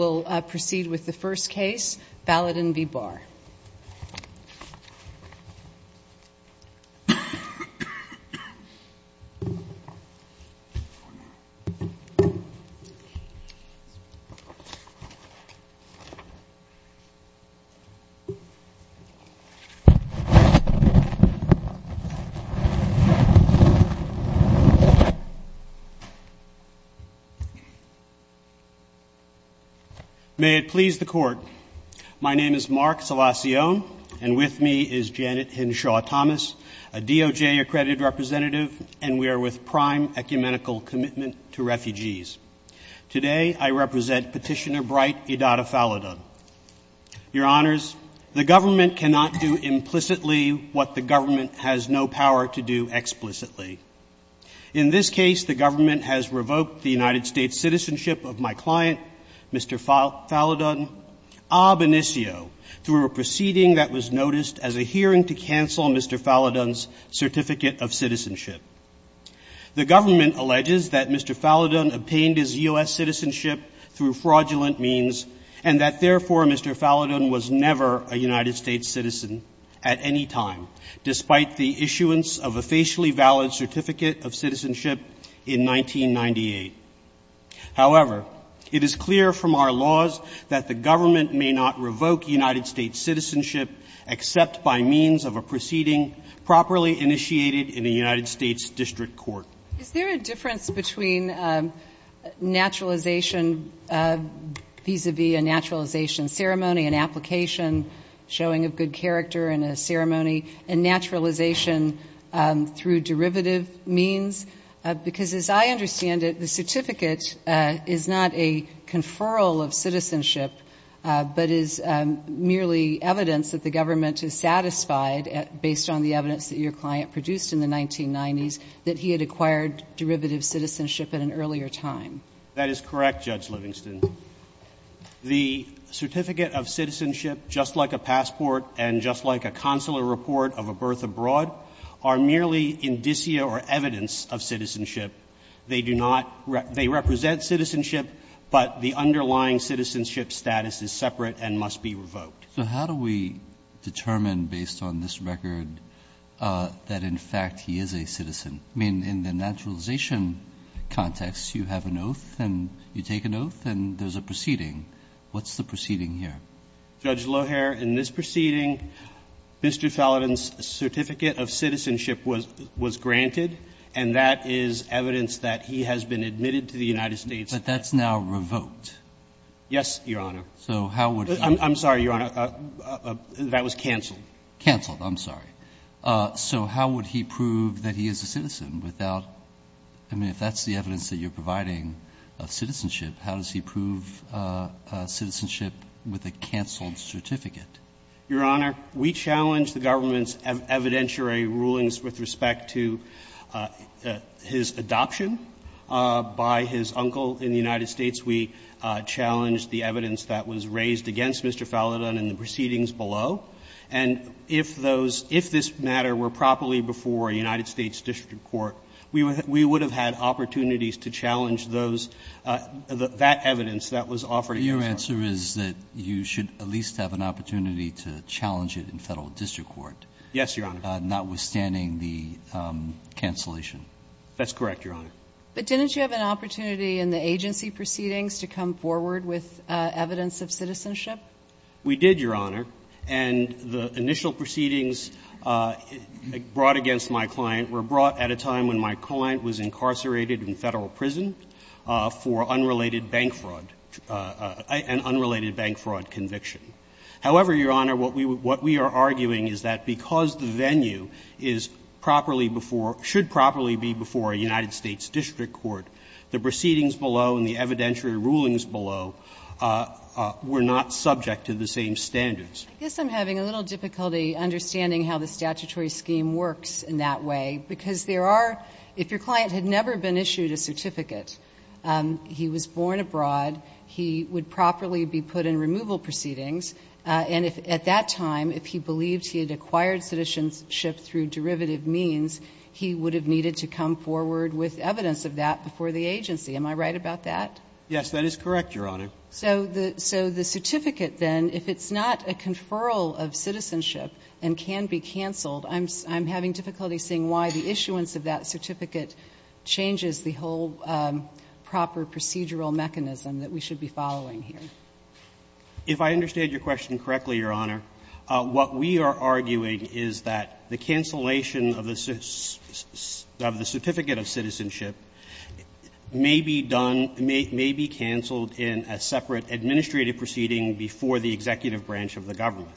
We'll proceed with the first case, Falodun v. Barr. May it please the Court. My name is Mark Salacion, and with me is Janet Hinshaw Thomas, a DOJ accredited representative, and we are with prime ecumenical commitment to refugees. Today I represent Petitioner Bright, idata Falodun. Your Honors, the government cannot do implicitly what the government has no power to do explicitly. In this case, the government has revoked the United States citizenship of my client, Mr. Falodun, a benicio, through a proceeding that was noticed as a hearing to cancel Mr. Falodun's certificate of citizenship. The government alleges that Mr. Falodun obtained his U.S. citizenship through fraudulent means, and that therefore Mr. Falodun was never a United States citizen at any time, despite the issuance of a facially valid certificate of citizenship in 1998. However, it is clear from our laws that the government may not revoke United States citizenship except by means of a proceeding properly initiated in a United States district court. Is there a difference between naturalization vis-a-vis a naturalization ceremony, an application showing of good character in a ceremony, and naturalization through derivative means? Because as I understand it, the certificate is not a conferral of citizenship, but is merely evidence that the government is satisfied, based on the evidence that your client produced in the 1990s, that he had acquired derivative citizenship at an earlier time. That is correct, Judge Livingston. The certificate of citizenship, just like a passport and just like a consular report of a birth abroad, are merely indicia or evidence of citizenship. They do not – they represent citizenship, but the underlying citizenship status is separate and must be revoked. So how do we determine, based on this record, that in fact he is a citizen? I mean, in the naturalization context, you have an oath and you take an oath and there's a proceeding. What's the proceeding here? Judge Loher, in this proceeding, Mr. Felden's certificate of citizenship was granted, and that is evidence that he has been admitted to the United States. But that's now revoked. Yes, Your Honor. So how would he – I'm sorry, Your Honor. That was canceled. Canceled. I'm sorry. So how would he prove that he is a citizen without – I mean, if that's the evidence that you're providing of citizenship, how does he prove citizenship with a canceled certificate? Your Honor, we challenge the government's evidentiary rulings with respect to his adoption by his uncle in the United States. We challenge the evidence that was raised against Mr. Felden in the proceedings below. And if those – if this matter were properly before a United States district court, we would have had opportunities to challenge those – that evidence that was offered. Your answer is that you should at least have an opportunity to challenge it in Federal district court. Yes, Your Honor. Notwithstanding the cancellation. That's correct, Your Honor. But didn't you have an opportunity in the agency proceedings to come forward with evidence of citizenship? We did, Your Honor. And the initial proceedings brought against my client were brought at a time when my client was incarcerated in Federal prison for unrelated bank fraud – an unrelated bank fraud conviction. However, Your Honor, what we are arguing is that because the venue is properly before – should properly be before a United States district court, the proceedings below and the evidentiary rulings below were not subject to the same standards. I guess I'm having a little difficulty understanding how the statutory scheme works in that way. Because there are – if your client had never been issued a certificate, he was born abroad, he would properly be put in removal proceedings, and if – at that time, if he believed he had acquired citizenship through derivative means, he would have needed to come forward with evidence of that before the agency. Am I right about that? Yes, that is correct, Your Honor. So the certificate, then, if it's not a conferral of citizenship and can be canceled, I'm having difficulty seeing why the issuance of that certificate changes the whole proper procedural mechanism that we should be following here. If I understand your question correctly, Your Honor, what we are arguing is that the cancellation of the certificate of citizenship may be done – may be canceled in a separate administrative proceeding before the executive branch of the government.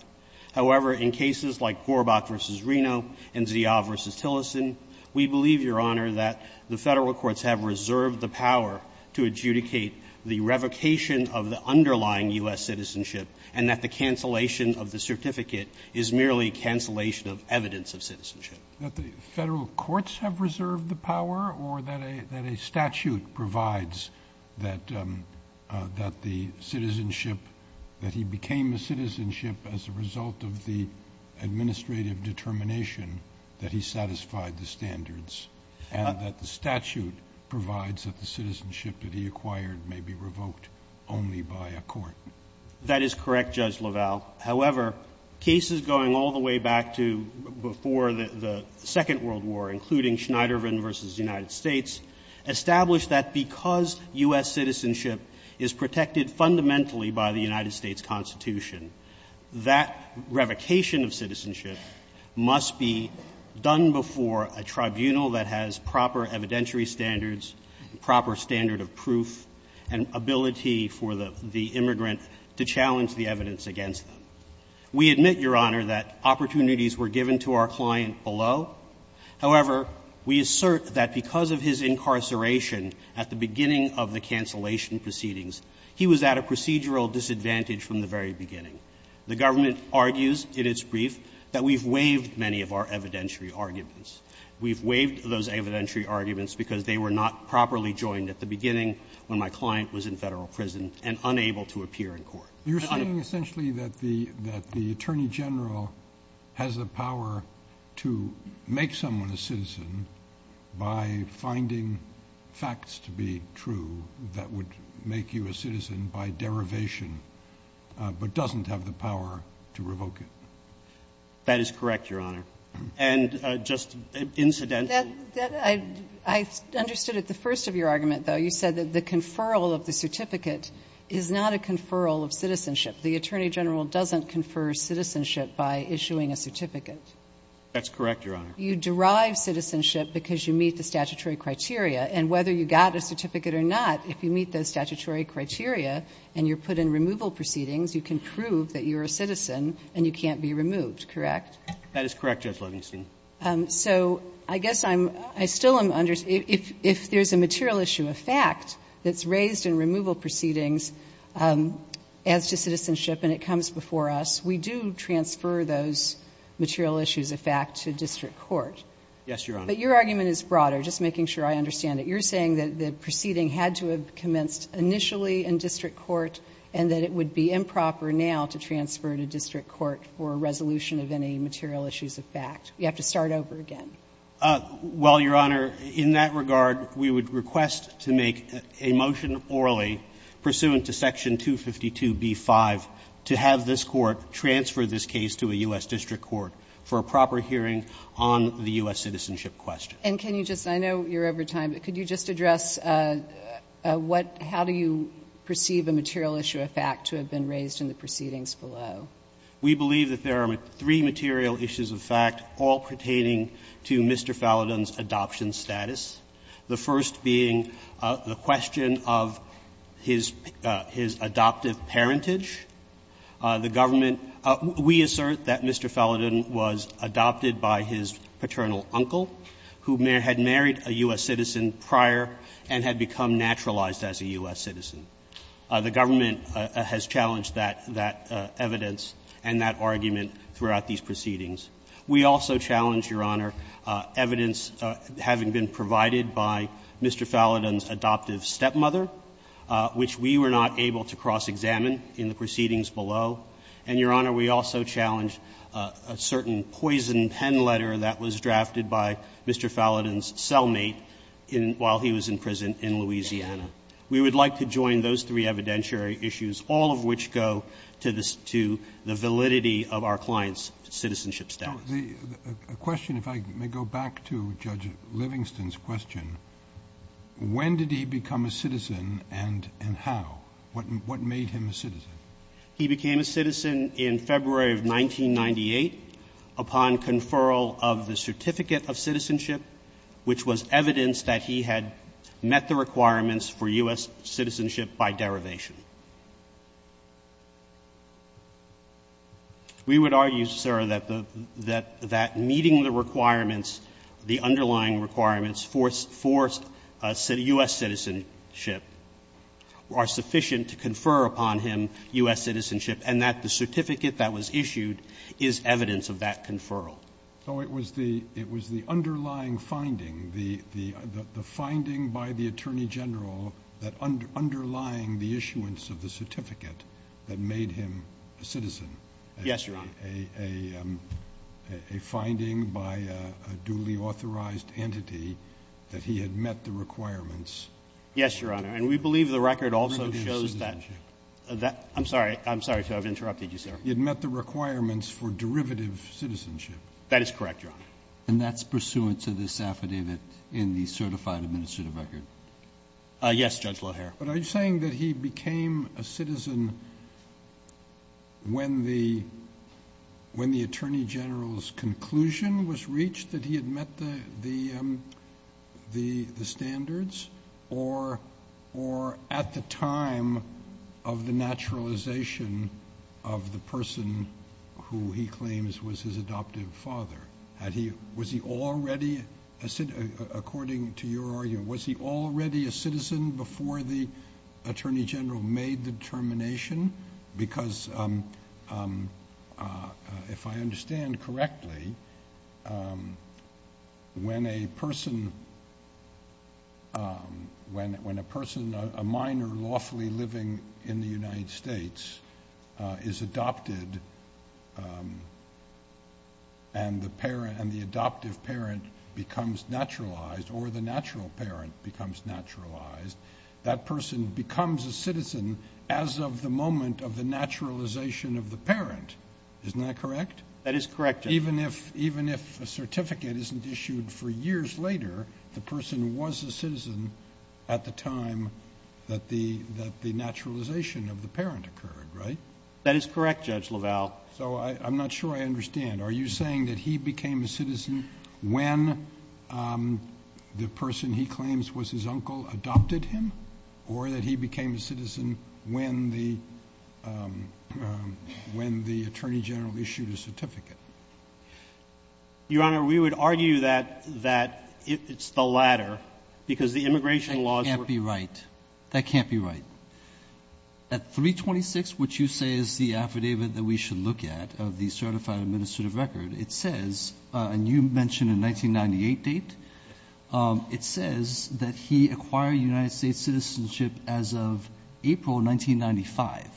However, in cases like Gorbach v. Reno and Zia v. Tillerson, we believe, Your Honor, that the Federal courts have reserved the power to adjudicate the revocation of the underlying U.S. citizenship and that the cancellation of the certificate is merely cancellation of evidence of citizenship. But the Federal courts have reserved the power or that a statute provides that the citizenship – that he became a citizenship as a result of the administrative determination that he satisfied the standards, and that the statute provides that the citizenship that he acquired may be revoked only by a court? That is correct, Judge LaValle. However, cases going all the way back to before the Second World War, including Schneider v. United States, established that because U.S. citizenship is protected fundamentally by the United States Constitution, that revocation of citizenship must be done before a tribunal that has proper evidentiary standards, proper standard of proof, and ability for the immigrant to challenge the evidence against them. We admit, Your Honor, that opportunities were given to our client below. However, we assert that because of his incarceration at the beginning of the cancellation proceedings, he was at a procedural disadvantage from the very beginning. The government argues in its brief that we've waived many of our evidentiary arguments. We've waived those evidentiary arguments because they were not properly joined at the beginning when my client was in Federal prison and unable to appear in court. You're saying essentially that the Attorney General has the power to make someone a citizen by finding facts to be true that would make you a citizen by derivation, but doesn't have the power to revoke it? That is correct, Your Honor. And just incidentally that I understood at the first of your argument, though. You said that the conferral of the certificate is not a conferral of citizenship. The Attorney General doesn't confer citizenship by issuing a certificate. That's correct, Your Honor. You derive citizenship because you meet the statutory criteria. And whether you got a certificate or not, if you meet those statutory criteria and you're put in removal proceedings, you can prove that you're a citizen and you can't be removed, correct? That is correct, Judge Livingston. So I guess I'm still understanding, if there's a material issue of fact that's raised in removal proceedings as to citizenship and it comes before us, we do transfer those material issues of fact to district court. Yes, Your Honor. But your argument is broader, just making sure I understand it. You're saying that the proceeding had to have commenced initially in district court and that it would be improper now to transfer to district court for a resolution of any material issues of fact. You have to start over again. Well, Your Honor, in that regard, we would request to make a motion orally pursuant to Section 252b-5 to have this Court transfer this case to a U.S. district court for a proper hearing on the U.S. citizenship question. And can you just – I know you're over time, but could you just address what – how do you perceive a material issue of fact to have been raised in the proceedings below? We believe that there are three material issues of fact all pertaining to Mr. Fallodon's adoption status, the first being the question of his – his adoptive parentage. The government – we assert that Mr. Fallodon was adopted by his paternal uncle who had married a U.S. citizen prior and had become naturalized as a U.S. citizen. The government has challenged that – that evidence and that argument throughout these proceedings. We also challenge, Your Honor, evidence having been provided by Mr. Fallodon's adoptive stepmother, which we were not able to cross-examine in the proceedings below. And, Your Honor, we also challenge a certain poison pen letter that was drafted by Mr. Fallodon's cellmate in – while he was in prison in Louisiana. We would like to join those three evidentiary issues, all of which go to the – to the validity of our client's citizenship status. The question, if I may go back to Judge Livingston's question, when did he become a citizen and – and how? What – what made him a citizen? He became a citizen in February of 1998 upon conferral of the Certificate of Citizenship, which was evidence that he had met the requirements for U.S. citizenship by derivation. We would argue, sir, that the – that meeting the requirements, the underlying requirements for U.S. citizenship are sufficient to confer upon him U.S. citizenship and that the certificate that was issued is evidence of that conferral. Oh, it was the – it was the underlying finding, the – the finding by the Attorney General that underlying the issuance of the certificate that made him a citizen. Yes, Your Honor. A – a finding by a duly authorized entity that he had met the requirements. Yes, Your Honor. And we believe the record also shows that. Derivative citizenship. That – I'm sorry. I'm sorry, sir. I've interrupted you, sir. He had met the requirements for derivative citizenship. That is correct, Your Honor. And that's pursuant to this affidavit in the certified administrative record? Yes, Judge Loehr. But are you saying that he became a citizen when the – when the Attorney General's conclusion was reached that he had met the – the – the standards or – or at the time of the naturalization of the person who he claims was his adoptive father? Had he – was he already a – according to your argument, was he already a citizen before the Attorney General made the determination? Because if I understand correctly, when a person – when a person – a minor lawfully living in the United States is adopted and the parent – and the adoptive parent becomes naturalized or the natural parent becomes naturalized, that person becomes a citizen as of the moment of the naturalization of the parent. Isn't that correct? That is correct, Judge. Even if – even if a certificate isn't issued for years later, the person was a citizen at the time that the – that the naturalization of the parent occurred, right? That is correct, Judge LaValle. So I – I'm not sure I understand. Are you saying that he became a citizen when the person he claims was his uncle adopted him or that he became a citizen when the – when the Attorney General issued a certificate? Your Honor, we would argue that – that it's the latter because the immigration laws were – That can't be right. That can't be right. At 326, which you say is the affidavit that we should look at of the certified administrative record, it says – and you mentioned a 1998 date – it says that he acquired United States citizenship as of April 1995.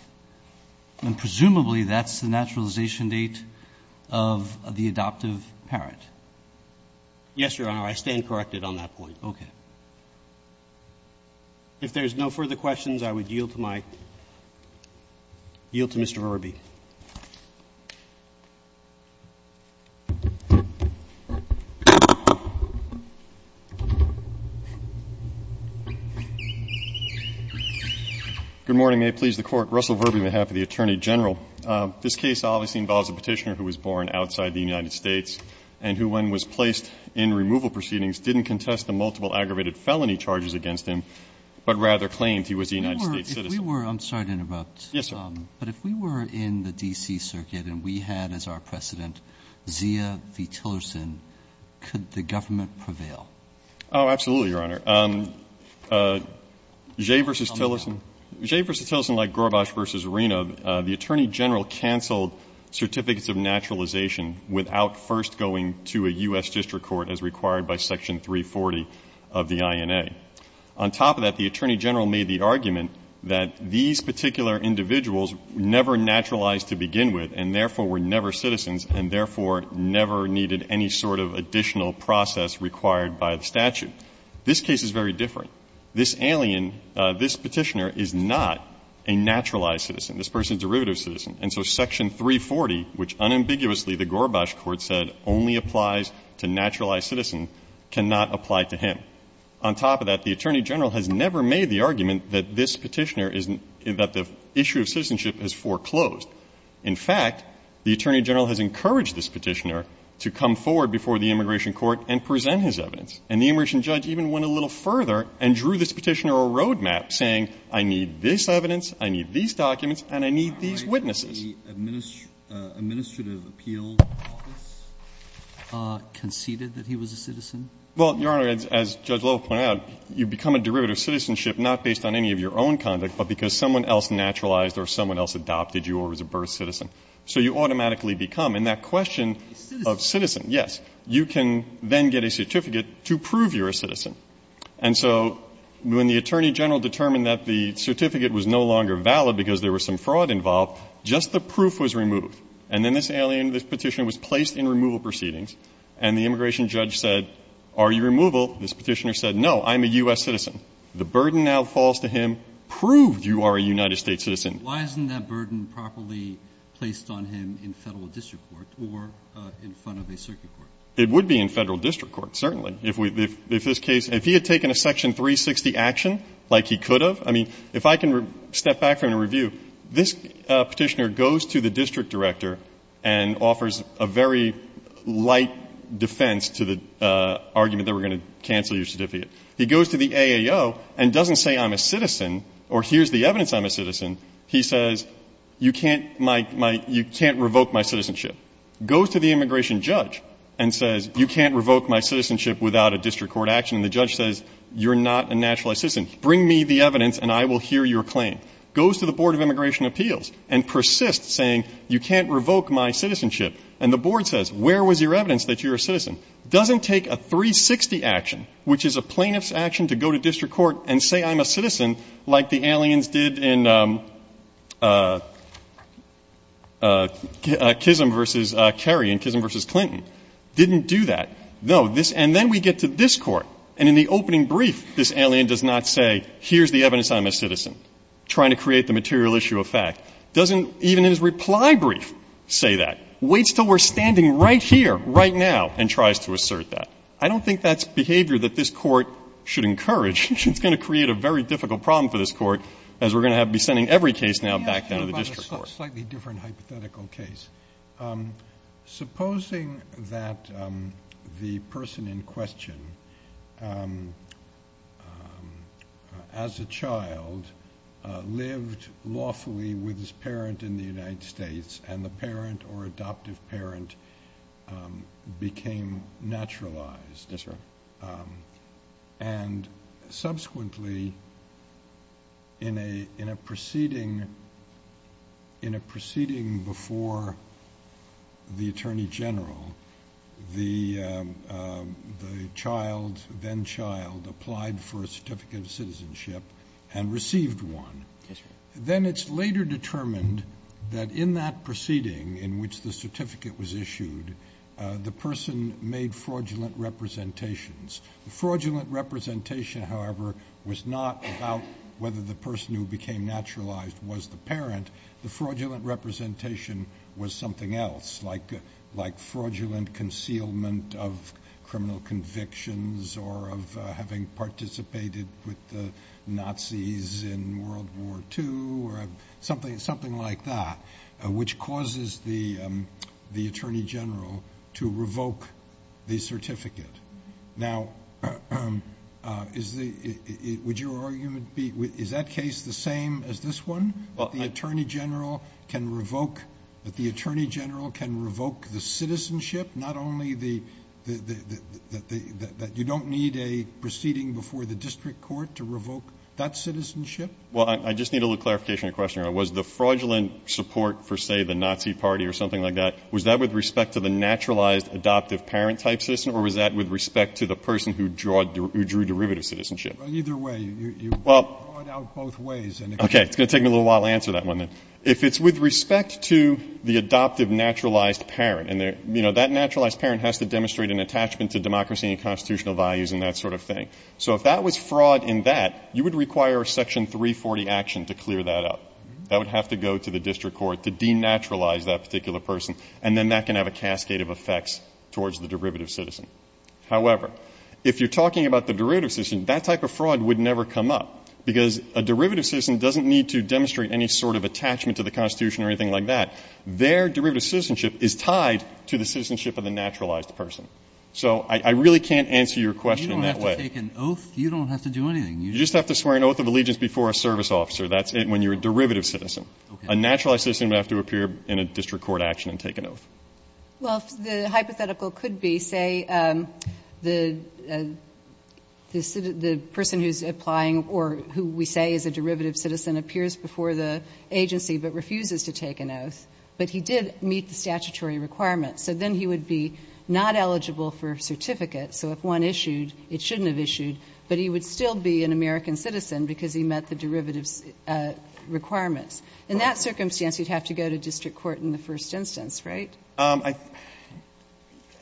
And presumably, that's the naturalization date of the adoptive parent. Yes, Your Honor. I stand corrected on that point. Okay. If there's no further questions, I would yield to my – yield to Mr. Ruberbee. Good morning. May it please the Court. Russell Ruberbee on behalf of the Attorney General. This case obviously involves a petitioner who was born outside the United States and who, when was placed in removal proceedings, didn't contest the multiple aggravated felony charges against him, but rather claimed he was a United States citizen. If we were – if we were – I'm sorry to interrupt. But if we were in the United States and we were placed in removal proceedings, in the D.C. Circuit, and we had as our precedent Zia v. Tillerson, could the government prevail? Oh, absolutely, Your Honor. Jay v. Tillerson. Jay v. Tillerson, like Gorbachev v. Arena, the Attorney General canceled certificates of naturalization without first going to a U.S. district court as required by Section 340 of the INA. On top of that, the Attorney General made the argument that these particular individuals were never naturalized to begin with and therefore were never citizens and therefore never needed any sort of additional process required by the statute. This case is very different. This alien, this petitioner, is not a naturalized citizen. This person is a derivative citizen. And so Section 340, which unambiguously the Gorbachev court said only applies to naturalized citizens, cannot apply to him. On top of that, the Attorney General has never made the argument that this petitioner is, that the issue of citizenship is foreclosed. In fact, the Attorney General has encouraged this petitioner to come forward before the immigration court and present his evidence. And the immigration judge even went a little further and drew this petitioner a road map saying, I need this evidence, I need these documents, and I need these witnesses. The Administrative Appeals Office conceded that he was a citizen? Well, Your Honor, as Judge Lovell pointed out, you become a derivative citizenship not based on any of your own conduct, but because someone else naturalized or someone else adopted you or was a birth citizen. So you automatically become. In that question of citizen, yes, you can then get a certificate to prove you're a citizen. And so when the Attorney General determined that the certificate was no longer valid because there was some fraud involved, just the proof was removed. And then this alien, this petitioner, was placed in removal proceedings. And the immigration judge said, are you removal? This petitioner said, no, I'm a U.S. citizen. The burden now falls to him. Prove you are a United States citizen. Why isn't that burden properly placed on him in Federal district court or in front of a circuit court? It would be in Federal district court, certainly. If we – if this case – if he had taken a Section 360 action like he could have, I mean, if I can step back from the review, this petitioner goes to the district director and offers a very light defense to the argument that we're going to cancel your certificate. He goes to the AAO and doesn't say I'm a citizen or here's the evidence I'm a citizen. He says, you can't – you can't revoke my citizenship. Goes to the immigration judge and says, you can't revoke my citizenship without a district court action. And the judge says, you're not a naturalized citizen. Bring me the evidence and I will hear your claim. Goes to the Board of Immigration Appeals and persists saying, you can't revoke And the board says, where was your evidence that you're a citizen? Doesn't take a 360 action, which is a plaintiff's action to go to district court and say I'm a citizen, like the aliens did in Kissam v. Kerry and Kissam v. Clinton. Didn't do that. No, this – and then we get to this court. And in the opening brief, this alien does not say, here's the evidence I'm a citizen, trying to create the material issue of fact. Doesn't even in his reply brief say that. Waits until we're standing right here, right now, and tries to assert that. I don't think that's behavior that this court should encourage. It's going to create a very difficult problem for this court, as we're going to be sending every case now back down to the district court. Let me ask you about a slightly different hypothetical case. Supposing that the person in question, as a child, lived lawfully with his parent in the United States, and the parent or adoptive parent became naturalized. Yes, sir. And subsequently, in a proceeding before the Attorney General, the child, then-child, applied for a certificate of citizenship and received one. Yes, sir. Then it's later determined that in that proceeding, in which the certificate was issued, the person made fraudulent representations. The fraudulent representation, however, was not about whether the person who became naturalized was the parent. The fraudulent representation was something else, like fraudulent concealment of criminal convictions, or of having participated with the Nazis in World War II, or something like that, which causes the Attorney General to revoke the certificate. Now, would your argument be, is that case the same as this one, that the Attorney General can revoke the citizenship, not only that you don't need a proceeding before the district court to revoke that citizenship? Well, I just need a little clarification on the question. Was the fraudulent support for, say, the Nazi Party or something like that, was that with respect to the naturalized adoptive parent-type citizen, or was that with respect to the person who drew derivative citizenship? Well, either way. You draw it out both ways. Okay. It's going to take me a little while to answer that one, then. If it's with respect to the adoptive naturalized parent, and that naturalized parent has to demonstrate an attachment to democracy and constitutional values and that sort of thing. So if that was fraud in that, you would require Section 340 action to clear that up. That would have to go to the district court to denaturalize that particular person, and then that can have a cascade of effects towards the derivative citizen. However, if you're talking about the derivative citizen, that type of fraud would never come up, because a derivative citizen doesn't need to demonstrate any sort of attachment to the Constitution or anything like that. Their derivative citizenship is tied to the citizenship of the naturalized person. So I really can't answer your question in that way. You don't have to take an oath. You don't have to do anything. You just have to swear an oath of allegiance before a service officer. That's when you're a derivative citizen. Okay. A naturalized citizen would have to appear in a district court action and take an oath. Well, the hypothetical could be, say, the person who's applying or who we say is a derivative citizen, but he did meet the statutory requirements. So then he would be not eligible for a certificate. So if one issued, it shouldn't have issued. But he would still be an American citizen because he met the derivative requirements. In that circumstance, you'd have to go to district court in the first instance, right?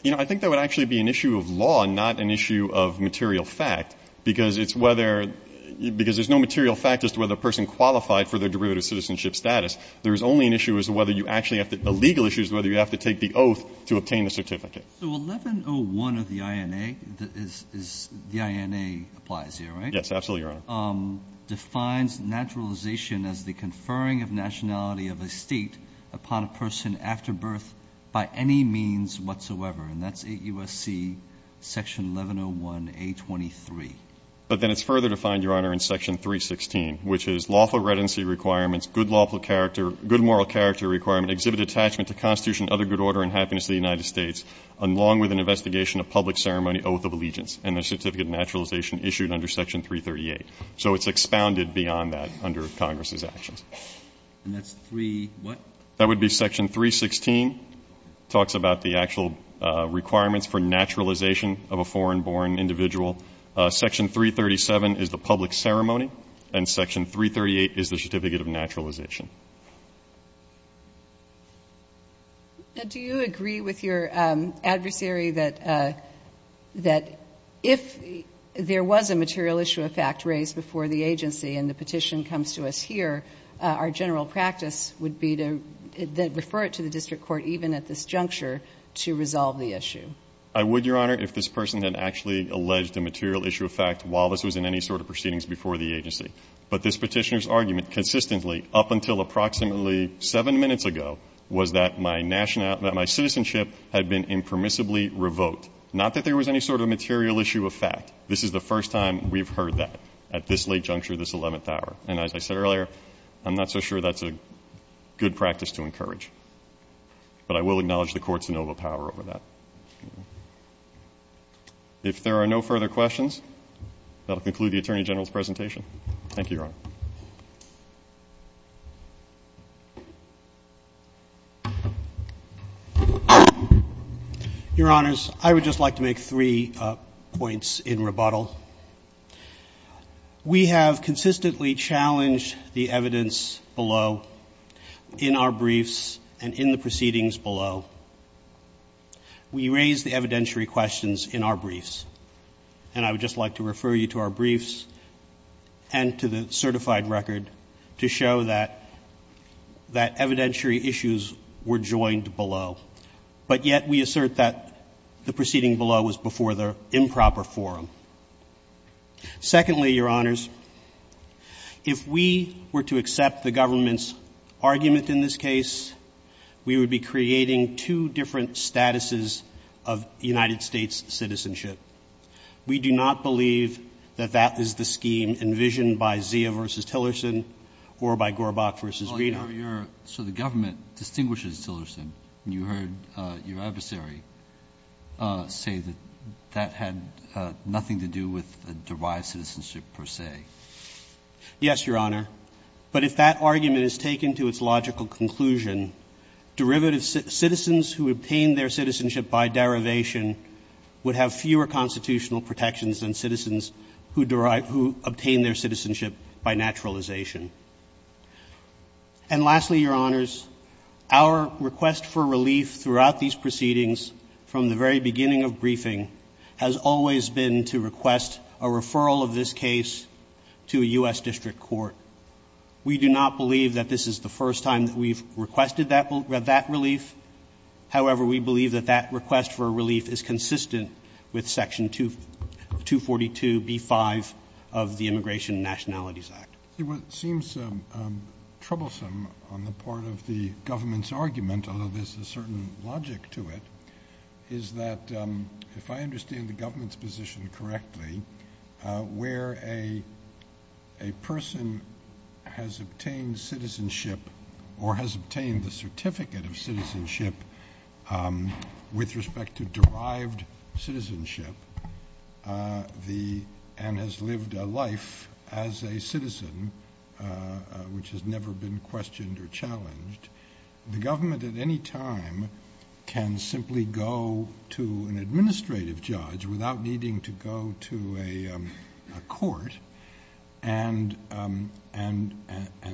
You know, I think that would actually be an issue of law and not an issue of material fact, because it's whether — because there's no material fact as to whether a person qualified for their derivative citizenship status. There's only an issue as to whether you actually have to — the legal issue is whether you have to take the oath to obtain the certificate. So 1101 of the INA is — the INA applies here, right? Yes, absolutely, Your Honor. Defines naturalization as the conferring of nationality of a State upon a person after birth by any means whatsoever. And that's 8 U.S.C. section 1101A23. But then it's further defined, Your Honor, in section 316, which is lawful redundancy requirements, good lawful character — good moral character requirement, exhibit attachment to Constitution, other good order, and happiness to the United States, along with an investigation of public ceremony, oath of allegiance, and the certificate of naturalization issued under section 338. So it's expounded beyond that under Congress's actions. And that's 3-what? That would be section 316. Talks about the actual requirements for naturalization of a foreign-born individual. Section 337 is the public ceremony, and section 338 is the certificate of naturalization. Do you agree with your adversary that if there was a material issue of fact raised before the agency and the petition comes to us here, our general practice would be to refer it to the district court even at this juncture to resolve the issue? I would, Your Honor, if this person had actually alleged a material issue of fact while this was in any sort of proceedings before the agency. But this petitioner's argument consistently, up until approximately seven minutes ago, was that my citizenship had been impermissibly revoked. Not that there was any sort of material issue of fact. This is the first time we've heard that at this late juncture, this 11th hour. And as I said earlier, I'm not so sure that's a good practice to encourage. But I will acknowledge the court's noble power over that. If there are no further questions, that will conclude the Attorney General's Thank you, Your Honor. Your Honors, I would just like to make three points in rebuttal. First of all, we have consistently challenged the evidence below in our briefs and in the proceedings below. We raise the evidentiary questions in our briefs. And I would just like to refer you to our briefs and to the certified record to show that evidentiary issues were joined below. But yet we assert that the proceeding below was before the improper forum. Secondly, Your Honors, if we were to accept the government's argument in this case, we would be creating two different statuses of United States citizenship. We do not believe that that is the scheme envisioned by Zia v. Tillerson or by Gorbach v. Reiner. So the government distinguishes Tillerson, and you heard your adversary say that that had nothing to do with derived citizenship per se. Yes, Your Honor. But if that argument is taken to its logical conclusion, derivative citizens who obtain their citizenship by derivation would have fewer constitutional protections than citizens who obtain their citizenship by naturalization. And lastly, Your Honors, our request for relief throughout these proceedings from the very beginning of briefing has always been to request a referral of this case to a U.S. District Court. We do not believe that this is the first time that we've requested that relief. However, we believe that that request for relief is consistent with Section 242b-5 of the Immigration and Nationalities Act. What seems troublesome on the part of the government's argument, although there's a certain logic to it, is that if I understand the government's position correctly, where a person has obtained citizenship or has obtained the certificate of citizenship with respect to derived citizenship and has lived a life as a citizen, which has never been questioned or challenged, the government at any time can simply go to an administrative judge without needing to go to a court and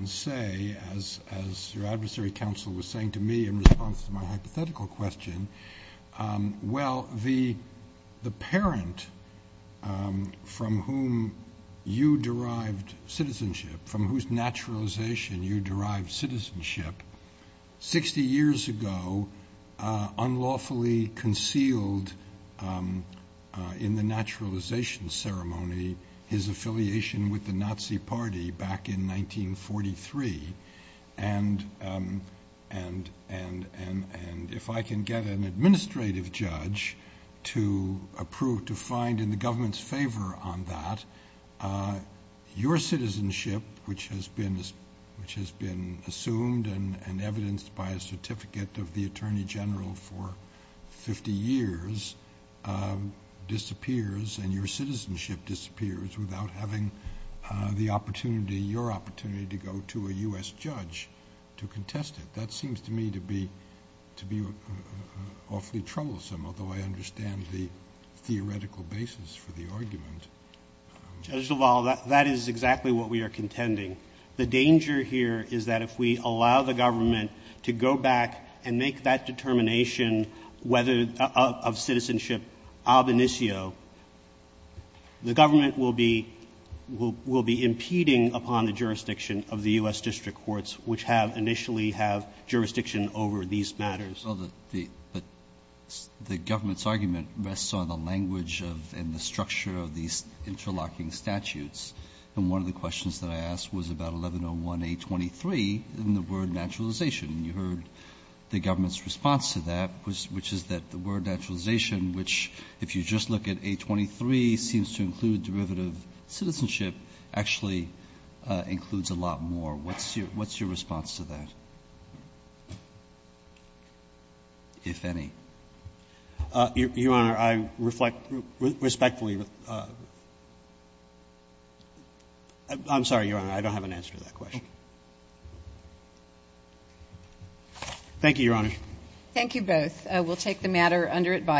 say, as your adversary counsel was saying to me in response to my hypothetical question, well, the parent from whom you derived citizenship, from whose naturalization you derived citizenship, 60 years ago unlawfully concealed in the naturalization ceremony his affiliation with the Nazi party back in 1943. And if I can get an administrative judge to approve, to find in the government's favor on that, your citizenship, which has been assumed and evidenced by a certificate of the Attorney General for 50 years, disappears, and your citizenship disappears without having the opportunity, your opportunity, to go to a U.S. judge to contest it. That seems to me to be awfully troublesome, although I understand the theoretical basis for the argument. Judge Duval, that is exactly what we are contending. The danger here is that if we allow the government to go back and make that determination of citizenship ob initio, the government will be impeding upon the jurisdiction of the U.S. district courts, which have initially have jurisdiction over these matters. But the government's argument rests on the language and the structure of these interlocking statutes, and one of the questions that I asked was about 1101A23 and the word naturalization, and you heard the government's response to that, which is that the word naturalization, which if you just look at A23, seems to include derivative citizenship, actually includes a lot more. What's your response to that, if any? Your Honor, I reflect respectfully. I'm sorry, Your Honor. I don't have an answer to that question. Thank you, Your Honor. Thank you both. We'll take the matter under advisory.